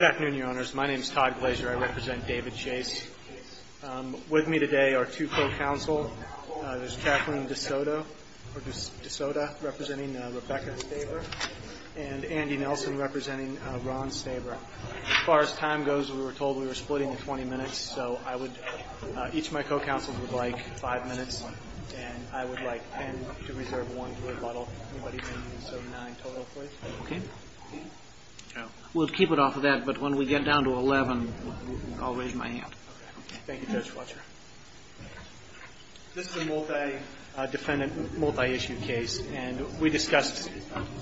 Good afternoon, your honors. My name is Todd Glazer. I represent David Chase. With me today are two co-counselors. There's Kathleen DeSoto, representing Rebecca Staber, and Andy Nelson, representing Ron Staber. As far as time goes, we were told we were splitting the 20 minutes, so each of my co-counselors would like five minutes, and I would like 10 to reserve one to rebuttal. Anybody in the 79 total, please? We'll keep it off of that, but when we get down to 11, I'll raise my hand. Thank you, Judge Fletcher. This is a multi-defendant, multi-issue case, and we discussed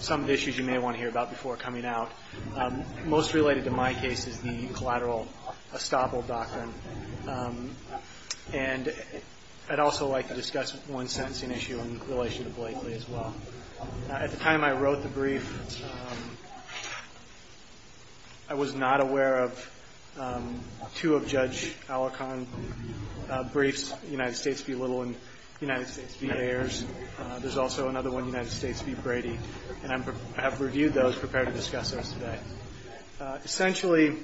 some of the issues you may want to hear about before coming out. Most related to my case is the collateral estoppel doctrine, and I'd also like to discuss one sentencing issue in relation to Blakely as well. At the time I wrote the brief, I was not aware of two of Judge Alacon's briefs, United States v. Little and United States v. Ayers. There's also another one, United States v. Brady, and I have reviewed those, prepared to discuss those today. Essentially,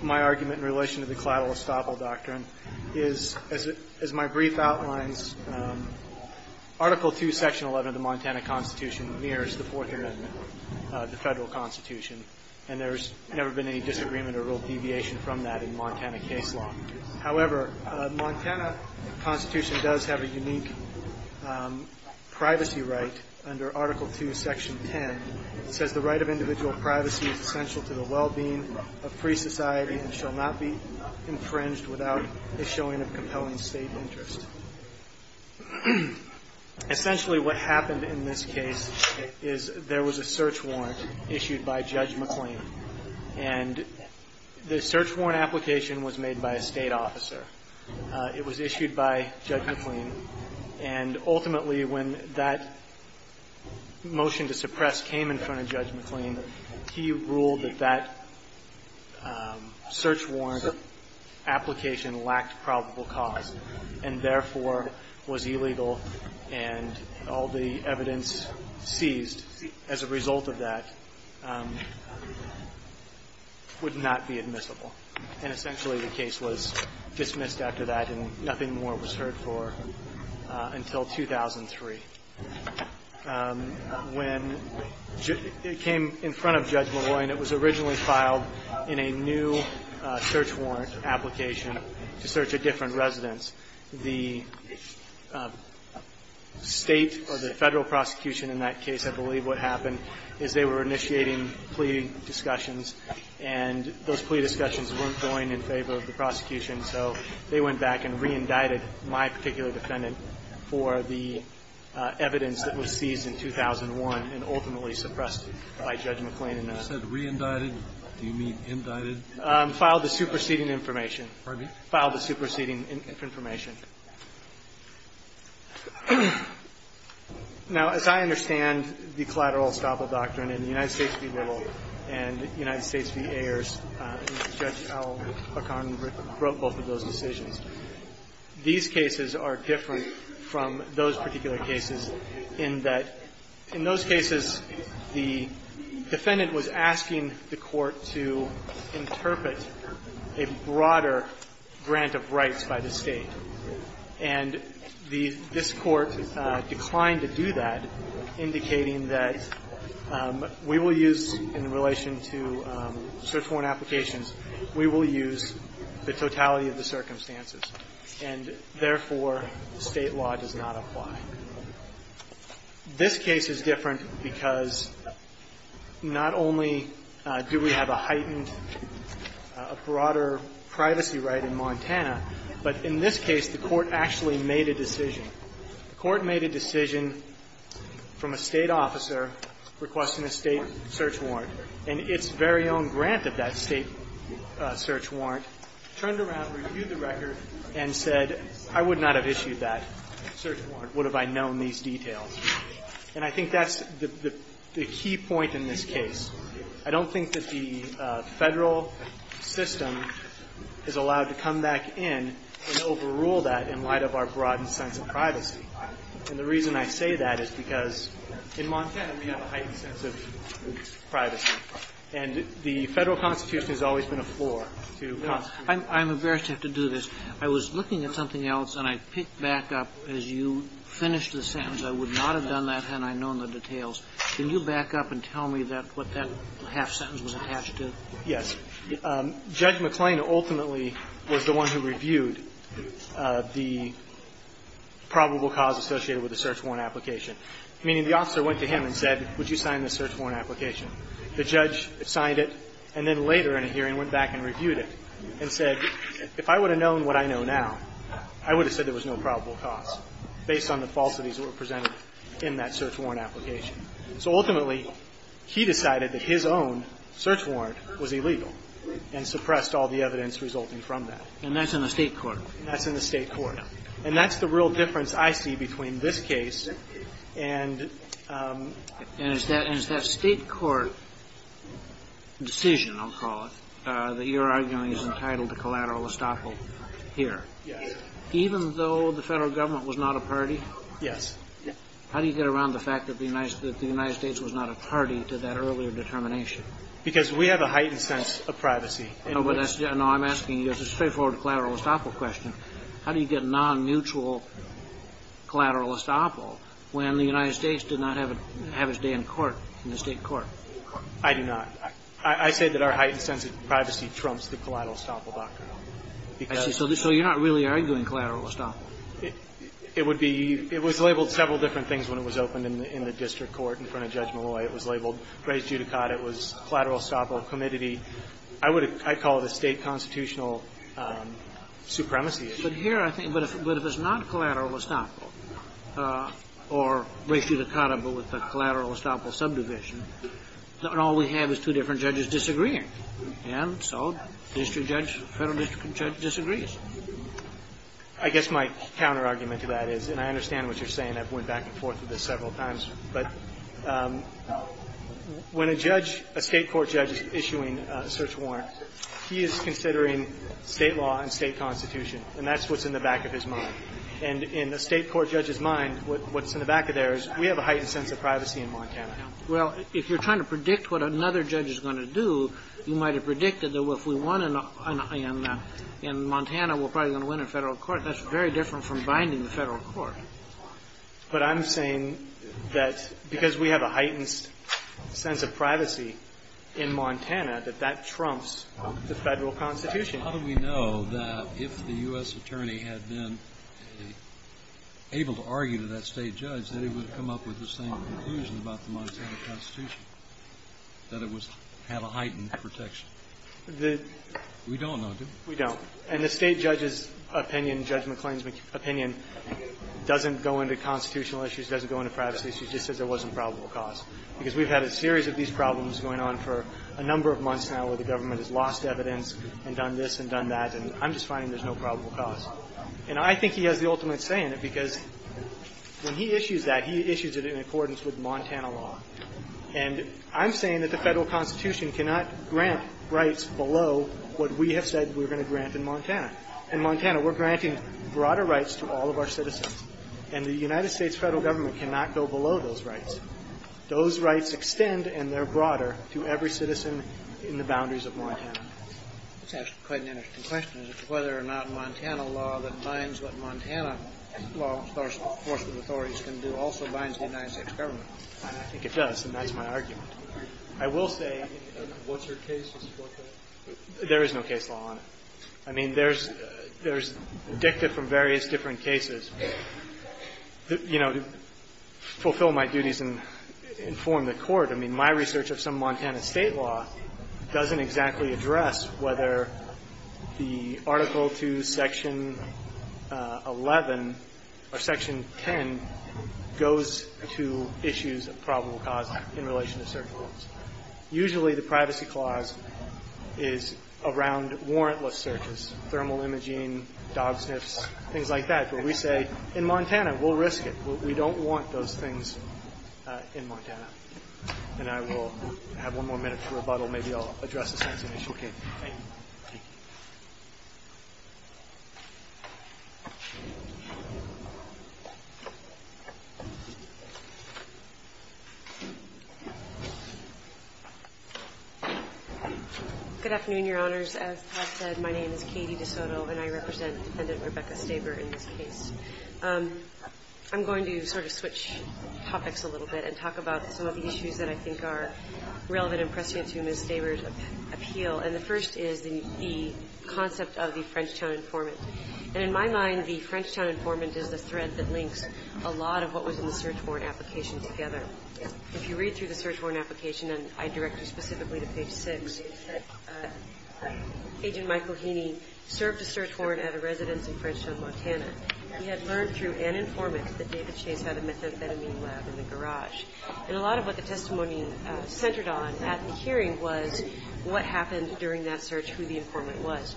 my argument in relation to the collateral estoppel doctrine is, as my brief outlines, Article II, Section 11 of the Montana Constitution mirrors the Fourth Amendment, the Federal Constitution, and there's never been any disagreement or real deviation from that in Montana case law. However, the Montana Constitution does have a unique privacy right under Article II, Section 10. It says, The right of individual privacy is essential to the well-being of free society and shall not be infringed without the showing of compelling State interest. Essentially, what happened in this case is there was a search warrant issued by Judge McLean, and the search warrant application was made by a State officer. It was issued by Judge McLean, and ultimately when that motion to suppress came in front of Judge McLean, he ruled that that search warrant application lacked probable cause and therefore was illegal and all the evidence seized as a result of that would not be admissible. And essentially the case was dismissed after that and nothing more was heard for until 2003. When it came in front of Judge McLean, it was originally filed in a new search warrant application to search a different residence. The State or the Federal prosecution in that case, I believe what happened is they were initiating plea discussions, and those plea discussions weren't going in favor of the prosecution, so they went back and re-indicted my particular defendant for the evidence that was seized in 2001 and ultimately suppressed it by Judge McLean. Kennedy. You said re-indicted. Do you mean indicted? Filed the superseding information. Pardon me? Filed the superseding information. Now, as I understand the collateral estoppel doctrine, in the United States v. Little and United States v. Ayers, Judge Al-Hakam wrote both of those decisions. These cases are different from those particular cases in that in those cases, the defendant was asking the Court to interpret a broader grant of rights by the State. And this Court declined to do that, indicating that we will use in relation to search warrant applications, we will use the totality of the circumstances. And therefore, State law does not apply. This case is different because not only do we have a heightened, a broader privacy right in Montana, but in this case the Court actually made a decision. The Court made a decision from a State officer requesting a State search warrant, and its very own grant of that State search warrant turned around, reviewed the record, and said, I would not have issued that search warrant would have I known these details. And I think that's the key point in this case. I don't think that the Federal system is allowed to come back in and overrule that in light of our broadened sense of privacy. And the reason I say that is because in Montana we have a heightened sense of privacy. And the Federal Constitution has always been a floor to Constitution. I'm embarrassed to have to do this. I was looking at something else, and I picked back up as you finished the sentence, I would not have done that had I known the details. Can you back up and tell me what that half sentence was attached to? Yes. Judge McClain ultimately was the one who reviewed the probable cause associated with the search warrant application. Meaning the officer went to him and said, would you sign this search warrant application? The judge signed it and then later in a hearing went back and reviewed it and said, if I would have known what I know now, I would have said there was no probable cause based on the falsities that were presented in that search warrant application. So ultimately he decided that his own search warrant was illegal and suppressed all the evidence resulting from that. And that's in the State court? That's in the State court. And that's the real difference I see between this case and… And it's that State court decision, I'll call it, that you're arguing is entitled to collateral estoppel here. Yes. Even though the Federal government was not a party? Yes. How do you get around the fact that the United States was not a party to that earlier determination? Because we have a heightened sense of privacy. No, I'm asking you a straightforward collateral estoppel question. How do you get non-mutual collateral estoppel when the United States did not have its day in court, in the State court? I do not. I say that our heightened sense of privacy trumps the collateral estoppel doctrine. I see. So you're not really arguing collateral estoppel. It would be – it was labeled several different things when it was opened in the district court in front of Judge Malloy. It was labeled res judicata. It was collateral estoppel, committee. I would – I call it a State constitutional supremacy issue. But here I think – but if it's not collateral estoppel or res judicata but with the collateral estoppel subdivision, then all we have is two different judges disagreeing. And so district judge, Federal district judge disagrees. I guess my counterargument to that is – and I understand what you're saying. I've went back and forth with this several times. But when a judge – a State court judge is issuing a search warrant, he is considering State law and State constitution. And that's what's in the back of his mind. And in a State court judge's mind, what's in the back of theirs, we have a heightened sense of privacy in Montana. Well, if you're trying to predict what another judge is going to do, you might have in Montana, we're probably going to win in Federal court. That's very different from binding the Federal court. But I'm saying that because we have a heightened sense of privacy in Montana, that that trumps the Federal constitution. How do we know that if the U.S. attorney had been able to argue to that State judge that he would have come up with the same conclusion about the Montana constitution, that it was – had a heightened protection? The – We don't know, do we? We don't. And the State judge's opinion, Judge McClain's opinion, doesn't go into constitutional issues, doesn't go into privacy issues, just says there wasn't probable cause. Because we've had a series of these problems going on for a number of months now where the government has lost evidence and done this and done that, and I'm just finding there's no probable cause. And I think he has the ultimate say in it, because when he issues that, he issues it in accordance with Montana law. And I'm saying that the Federal constitution cannot grant rights below what we have said we're going to grant in Montana. In Montana, we're granting broader rights to all of our citizens, and the United States Federal government cannot go below those rights. Those rights extend, and they're broader, to every citizen in the boundaries of Montana. It's actually quite an interesting question. Is it whether or not Montana law that binds what Montana law enforcement authorities can do also binds the United States government? And I think it does, and that's my argument. I will say that there is no case law on it. I mean, there's dicta from various different cases. You know, to fulfill my duties and inform the Court, I mean, my research of some Montana state law doesn't exactly address whether the article to section 11 or section 10 goes to issues of probable cause in relation to search warrants. Usually the privacy clause is around warrantless searches, thermal imaging, dog sniffs, things like that. But we say, in Montana, we'll risk it. We don't want those things in Montana. And I will have one more minute to rebuttal. Maybe I'll address the sanction issue again. Thank you. Good afternoon, Your Honors. As Todd said, my name is Katie DeSoto, and I represent Defendant Rebecca Staber in this case. I'm going to sort of switch topics a little bit and talk about some of the issues that I think are relevant and pressing to Ms. Staber's appeal. And the first is the concept of the Frenchtown informant. And in my mind, the Frenchtown informant is the thread that links a lot of what was in the search warrant application together. If you read through the search warrant application, and I direct you specifically to page 6, Agent Michael Heaney served a search warrant at a residence in Frenchtown, Montana. He had learned through an informant that David Chase had a methamphetamine lab in the garage. And a lot of what the testimony centered on at the hearing was what happened during that search, who the informant was.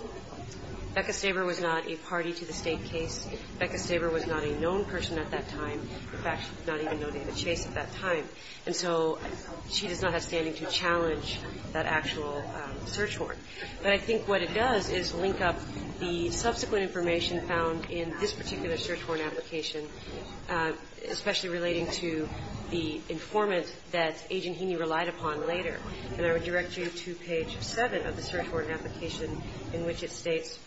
Rebecca Staber was not a party to the state case. Rebecca Staber was not a known person at that time, in fact, not even known to David Chase at that time. And so she does not have standing to challenge that actual search warrant. But I think what it does is link up the subsequent information found in this informant that Agent Heaney relied upon later. And I would direct you to page 7 of the search warrant application in which it states,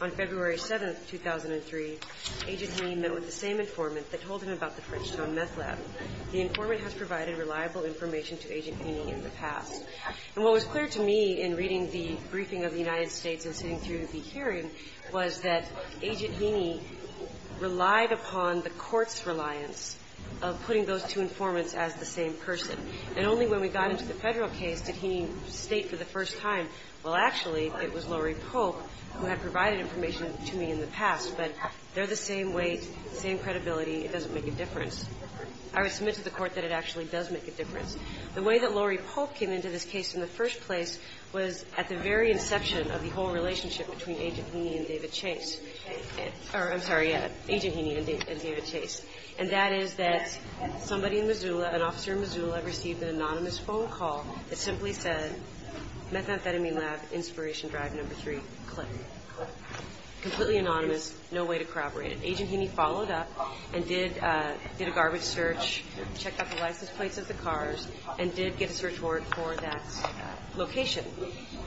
on February 7, 2003, Agent Heaney met with the same informant that told him about the Frenchtown meth lab. The informant has provided reliable information to Agent Heaney in the past. And what was clear to me in reading the briefing of the United States and sitting through the hearing was that Agent Heaney relied upon the court's reliance of putting those two informants as the same person. And only when we got into the Federal case did Heaney state for the first time, well, actually, it was Lori Polk who had provided information to me in the past, but they're the same weight, same credibility. It doesn't make a difference. I would submit to the Court that it actually does make a difference. The way that Lori Polk came into this case in the first place was at the very inception of the whole relationship between Agent Heaney and David Chase. Or, I'm sorry, Agent Heaney and David Chase. And that is that somebody in Missoula, an officer in Missoula, received an anonymous phone call that simply said, Methamphetamine Lab, Inspiration Drive, Number 3, click. Completely anonymous. No way to corroborate it. Agent Heaney followed up and did a garbage search, checked out the license plates of the cars, and did get a search warrant for that location.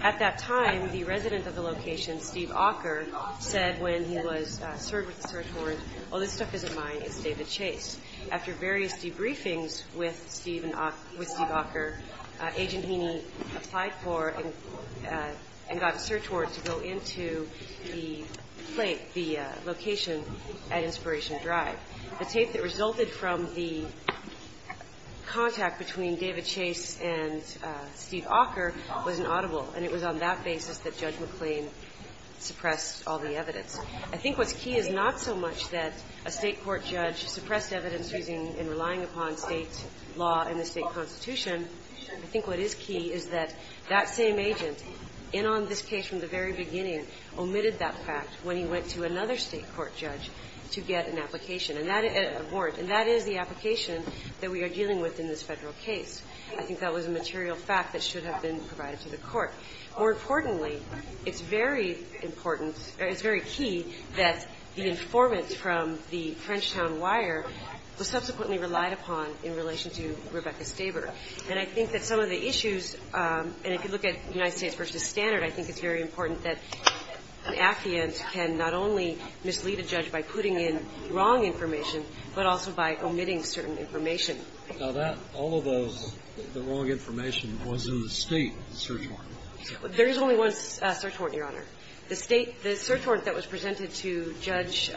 At that time, the resident of the location, Steve Ocker, said when he was served with the search warrant, all this stuff isn't mine, it's David Chase. After various debriefings with Steve Ocker, Agent Heaney applied for and got a search warrant to go into the plate, the location at Inspiration Drive. The tape that resulted from the contact between David Chase and Steve Ocker was inaudible, and it was on that basis that Judge McLean suppressed all the evidence. I think what's key is not so much that a state court judge suppressed evidence in relying upon state law and the state constitution. I think what is key is that that same agent, in on this case from the very beginning, omitted that fact when he went to another state court judge to get a warrant. And that is the application that we are dealing with in this federal case. I think that was a material fact that should have been provided to the court. More importantly, it's very important, or it's very key, that the informant from the Frenchtown Wire was subsequently relied upon in relation to Rebecca Staber. And I think that some of the issues, and if you look at United States v. Standard, I think it's very important that an affiant can not only mislead a judge by putting in wrong information, but also by omitting certain information. Now, that, all of those, the wrong information was in the state search warrant. There is only one search warrant, Your Honor. The state, the search warrant that was presented to Judge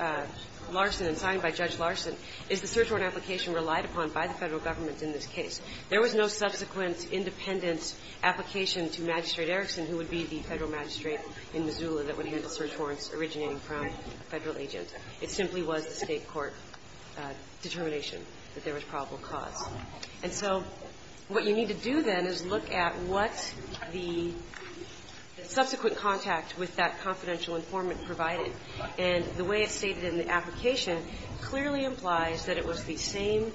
Larson and signed by Judge Larson is the search warrant application relied upon by the Federal government in this case. There was no subsequent independent application to Magistrate Erickson, who would be the Federal magistrate in Missoula that would handle search warrants originating from a Federal agent. It simply was the State court determination that there was probable cause. And so what you need to do, then, is look at what the subsequent contact with that confidential informant provided. And the way it's stated in the application clearly implies that it was the same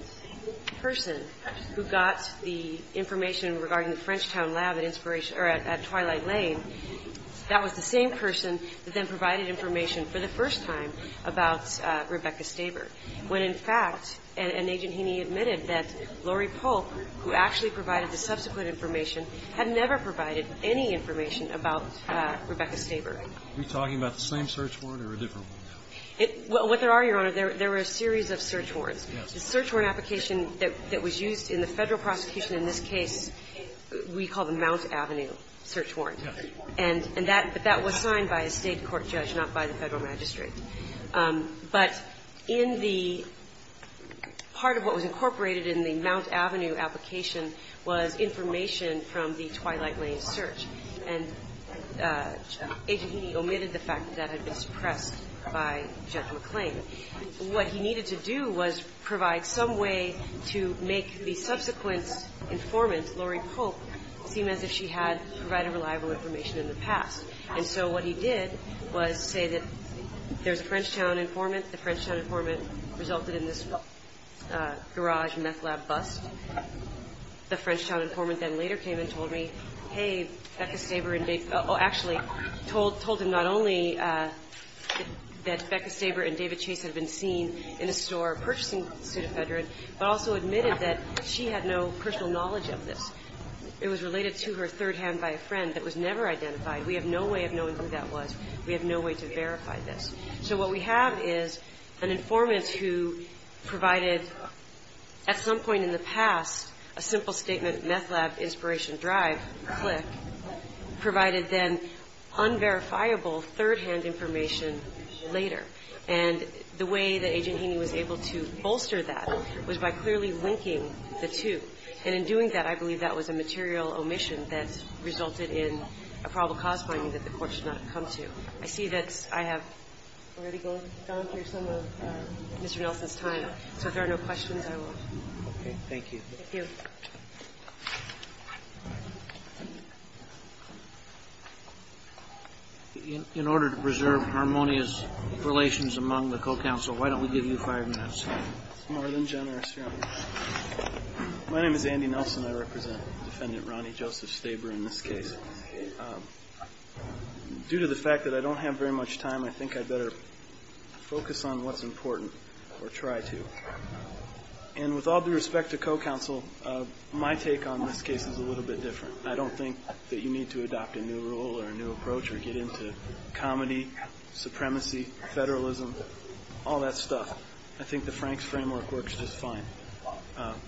person who got the information regarding the Frenchtown lab at Twilight Lane. That was the same person that then provided information for the first time about Rebecca Staber, when, in fact, an agent he needed admitted that Lori Polk, who actually provided the subsequent information, had never provided any information about Rebecca Staber. Are you talking about the same search warrant or a different one? Well, what there are, Your Honor, there were a series of search warrants. The search warrant application that was used in the Federal prosecution in this case, we call the Mount Avenue search warrant. And that was signed by a State court judge, not by the Federal magistrate. But in the part of what was incorporated in the Mount Avenue application was information from the Twilight Lane search. And Agent Heaney omitted the fact that that had been suppressed by Judge McClain. What he needed to do was provide some way to make the subsequent informant, Lori Polk, seem as if she had provided reliable information in the past. And so what he did was say that there's a Frenchtown informant. The Frenchtown informant resulted in this garage meth lab bust. The Frenchtown informant then later came and told me, hey, Becca Staber and David Chase, oh, actually, told him not only that Becca Staber and David Chase had been seen in a store purchasing pseudofedrin, but also admitted that she had no personal knowledge of this. It was related to her third hand by a friend that was never identified. We have no way of knowing who that was. We have no way to verify this. So what we have is an informant who provided at some point in the past a simple statement, meth lab, Inspiration Drive, click, provided then unverifiable third-hand information later. And the way that Agent Heaney was able to bolster that was by clearly linking the two. And in doing that, I believe that was a material omission that resulted in a probable cause finding that the court should not have come to. I see that I have already gone through some of Mr. Nelson's time. So if there are no questions, I will. Okay. Thank you. Thank you. In order to preserve harmonious relations among the co-counsel, why don't we give you five minutes? It's more than generous, Your Honor. My name is Andy Nelson. I represent Defendant Ronnie Joseph Staber in this case. Due to the fact that I don't have very much time, I think I'd better focus on what's important or try to. And with all due respect to co-counsel, my take on this case is a little bit different. I don't think that you need to adopt a new rule or a new approach or get into comedy, supremacy, federalism, all that stuff. I think the Franks framework works just fine.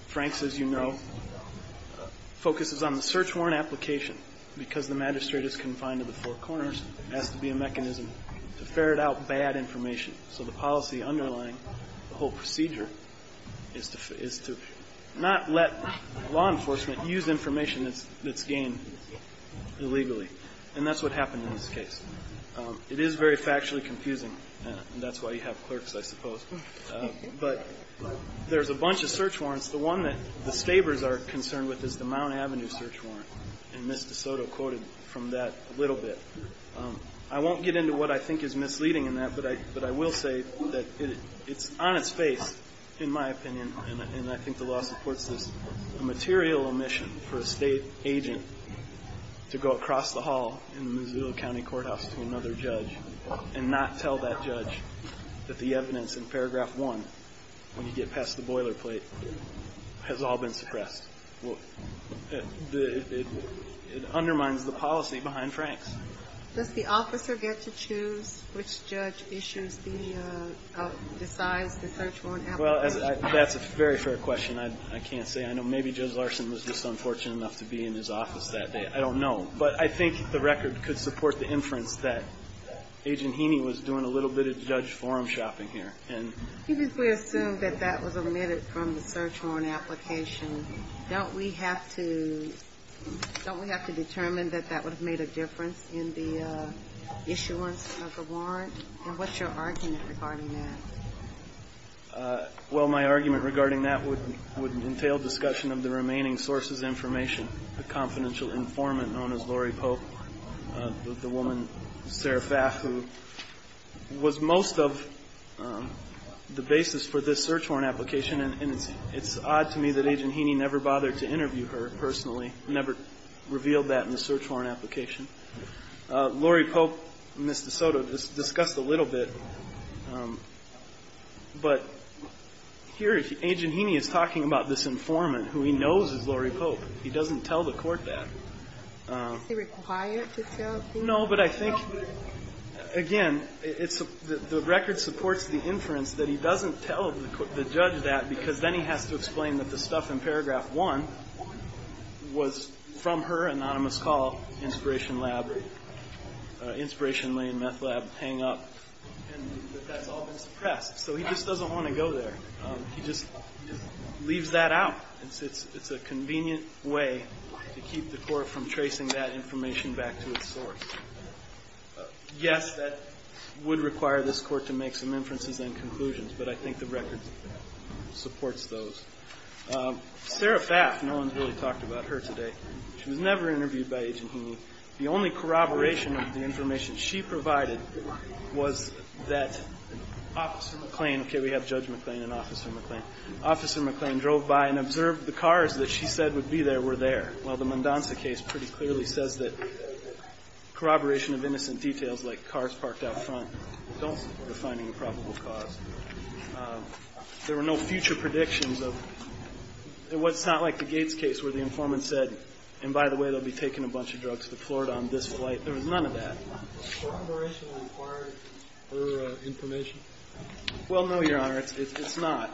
Franks, as you know, focuses on the search warrant application because the magistrate is confined to the four corners. It has to be a mechanism to ferret out bad information. So the policy underlying the whole procedure is to not let law enforcement use information that's gained illegally. And that's what happened in this case. It is very factually confusing, and that's why you have clerks, I suppose. But there's a bunch of search warrants. The one that the Stabers are concerned with is the Mount Avenue search warrant, and Ms. DeSoto quoted from that a little bit. I won't get into what I think is misleading in that, but I will say that it's on its face, in my opinion, and I think the law supports this, a material omission for a state agent to go across the hall in the Missoula County Courthouse to another judge that the evidence in paragraph one, when you get past the boilerplate, has all been suppressed. It undermines the policy behind Franks. Does the officer get to choose which judge issues the size of the search warrant application? Well, that's a very fair question. I can't say. I know maybe Judge Larson was just unfortunate enough to be in his office that day. I don't know. But I think the record could support the inference that Agent Heaney was doing a little bit of judge forum shopping here. If we assume that that was omitted from the search warrant application, don't we have to determine that that would have made a difference in the issuance of the warrant? And what's your argument regarding that? Well, my argument regarding that would entail discussion of the remaining sources of information, the confidential informant known as Lori Pope, the woman, Sarah Faff, who was most of the basis for this search warrant application. And it's odd to me that Agent Heaney never bothered to interview her personally, never revealed that in the search warrant application. Lori Pope and Ms. DeSoto discussed a little bit. But here Agent Heaney is talking about this informant who he knows is Lori Pope. He doesn't tell the court that. Is he required to tell the court? No, but I think, again, the record supports the inference that he doesn't tell the judge that because then he has to explain that the stuff in paragraph 1 was from her anonymous call, Inspiration Lab, Inspiration Lane, Meth Lab, Hang Up, and that that's all been suppressed. So he just doesn't want to go there. He just leaves that out. It's a convenient way to keep the court from tracing that information back to its source. Yes, that would require this court to make some inferences and conclusions, but I think the record supports those. Sarah Faff, no one's really talked about her today. She was never interviewed by Agent Heaney. The only corroboration of the information she provided was that Officer McClain Okay, we have Judge McClain and Officer McClain. Officer McClain drove by and observed the cars that she said would be there were there. Well, the Mondanza case pretty clearly says that corroboration of innocent details like cars parked out front don't support a finding of probable cause. There were no future predictions of what's not like the Gates case where the informant said, and by the way, they'll be taking a bunch of drugs to Florida on this flight. There was none of that. Does corroboration require her information? Well, no, Your Honor, it's not.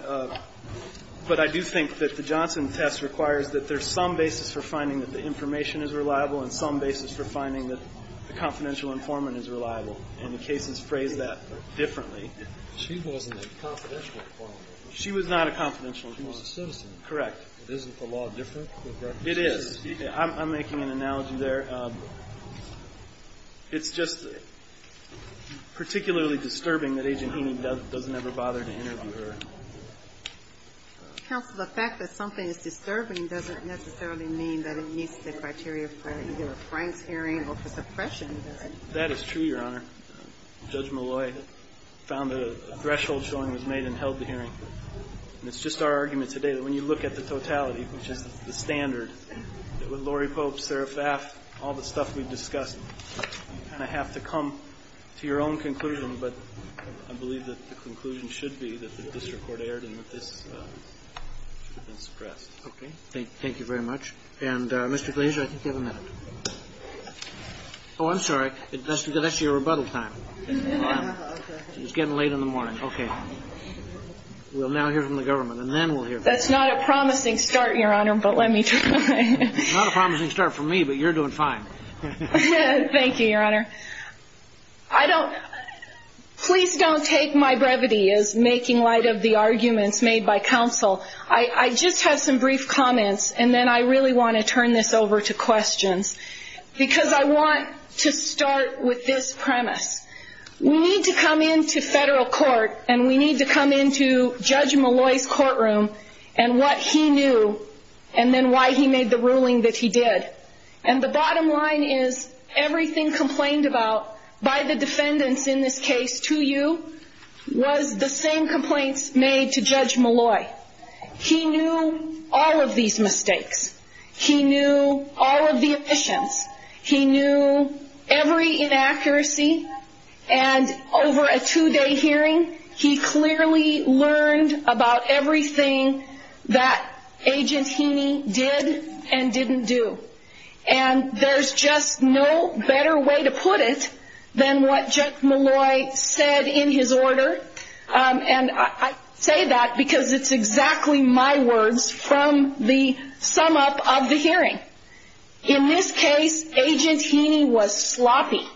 But I do think that the Johnson test requires that there's some basis for finding that the information is reliable and some basis for finding that the confidential informant is reliable, and the cases phrase that differently. She wasn't a confidential informant. She was not a confidential informant. She was a citizen. Correct. Isn't the law different? It is. I'm making an analogy there. It's just particularly disturbing that Agent Heaney doesn't ever bother to interview her. Counsel, the fact that something is disturbing doesn't necessarily mean that it meets the criteria for either a Frank's hearing or for suppression, does it? That is true, Your Honor. Judge Malloy found that a threshold showing was made and held the hearing. And it's just our argument today that when you look at the totality, which is the standard, that with Lori Pope, Sara Pfaff, all the stuff we've discussed, you kind of have to come to your own conclusion. But I believe that the conclusion should be that the district court erred and that this should have been suppressed. Okay. Thank you very much. And, Mr. Glazer, I think you have a minute. Oh, I'm sorry. That's your rebuttal time. It was getting late in the morning. Okay. We'll now hear from the government, and then we'll hear from you. That's not a promising start, Your Honor, but let me try. It's not a promising start for me, but you're doing fine. Thank you, Your Honor. Please don't take my brevity as making light of the arguments made by counsel. I just have some brief comments, and then I really want to turn this over to questions, because I want to start with this premise. We need to come into federal court, and we need to come into Judge Malloy's courtroom and what he knew and then why he made the ruling that he did. And the bottom line is everything complained about by the defendants in this case to you was the same complaints made to Judge Malloy. He knew all of these mistakes. He knew all of the omissions. He knew every inaccuracy, and over a two-day hearing, he clearly learned about everything that Agent Heaney did and didn't do. And there's just no better way to put it than what Judge Malloy said in his order, and I say that because it's exactly my words from the sum-up of the hearing. In this case, Agent Heaney was sloppy,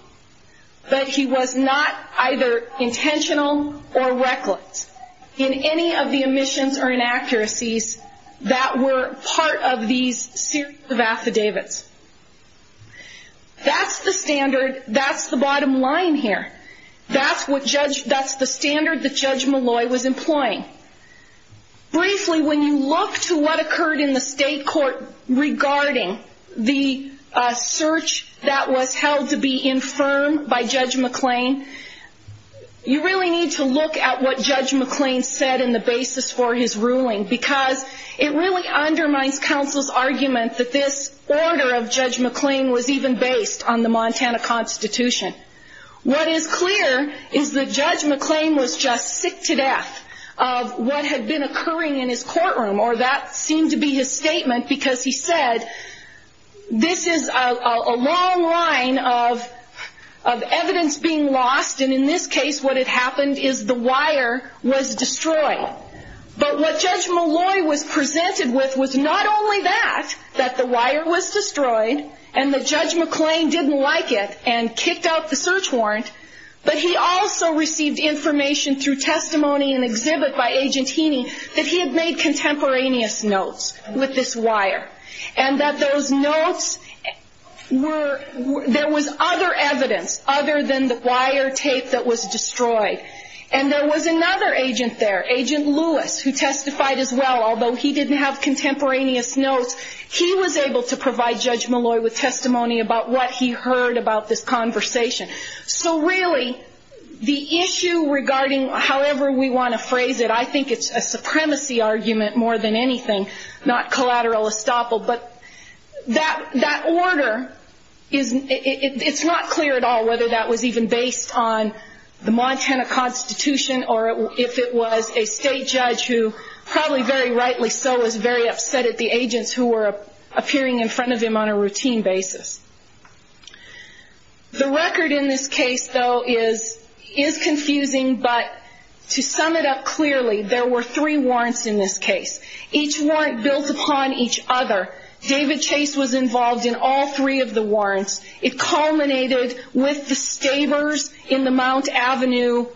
but he was not either intentional or reckless in any of the omissions or inaccuracies that were part of these series of affidavits. That's the standard. That's the bottom line here. That's the standard that Judge Malloy was employing. Briefly, when you look to what occurred in the state court regarding the search that was held to be infirm by Judge McClain, you really need to look at what Judge McClain said in the basis for his ruling because it really undermines counsel's argument that this order of Judge McClain was even based on the Montana Constitution. What is clear is that Judge McClain was just sick to death of what had been occurring in his courtroom, or that seemed to be his statement because he said, this is a long line of evidence being lost, and in this case what had happened is the wire was destroyed. But what Judge Malloy was presented with was not only that, that the wire was destroyed and that Judge McClain didn't like it and kicked out the search warrant, but he also received information through testimony and exhibit by Agent Heaney that he had made contemporaneous notes with this wire and that those notes were, there was other evidence other than the wire tape that was destroyed. And there was another agent there, Agent Lewis, who testified as well. Although he didn't have contemporaneous notes, he was able to provide Judge Malloy with testimony about what he heard about this conversation. So really, the issue regarding however we want to phrase it, I think it's a supremacy argument more than anything, not collateral estoppel, but that order, it's not clear at all whether that was even based on the Montana Constitution or if it was a state judge who, probably very rightly so, was very upset at the agents who were appearing in front of him on a routine basis. The record in this case, though, is confusing, but to sum it up clearly, there were three warrants in this case. Each warrant built upon each other. David Chase was involved in all three of the warrants. It culminated with the stabbers in the Mount Avenue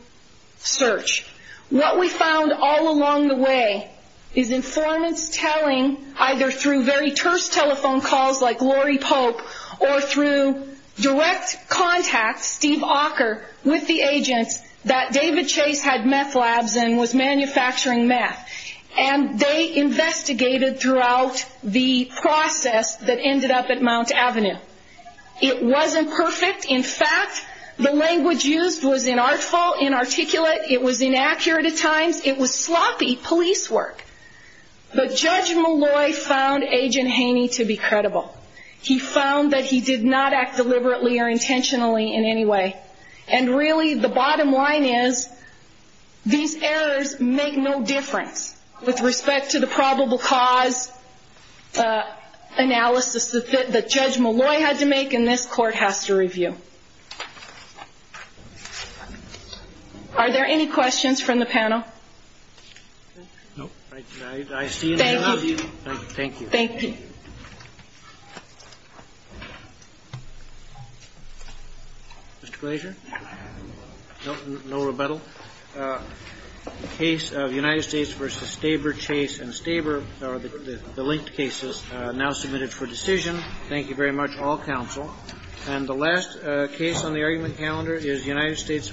search. What we found all along the way is informants telling, either through very terse telephone calls like Lori Pope, or through direct contact, Steve Ocker, with the agents, that David Chase had meth labs and was manufacturing meth. And they investigated throughout the process that ended up at Mount Avenue. It wasn't perfect. In fact, the language used was inarticulate. It was inaccurate at times. It was sloppy police work. But Judge Malloy found Agent Haney to be credible. He found that he did not act deliberately or intentionally in any way. And really, the bottom line is, these errors make no difference with respect to the probable cause analysis that Judge Malloy had to make and this Court has to review. Are there any questions from the panel? No. I see none of you. Thank you. Thank you. Mr. Glazier? No rebuttal. The case of United States v. Staber, Chase and Staber, the linked cases, now submitted for decision. Thank you very much, all counsel. And the last case on the argument calendar is United States v. Young.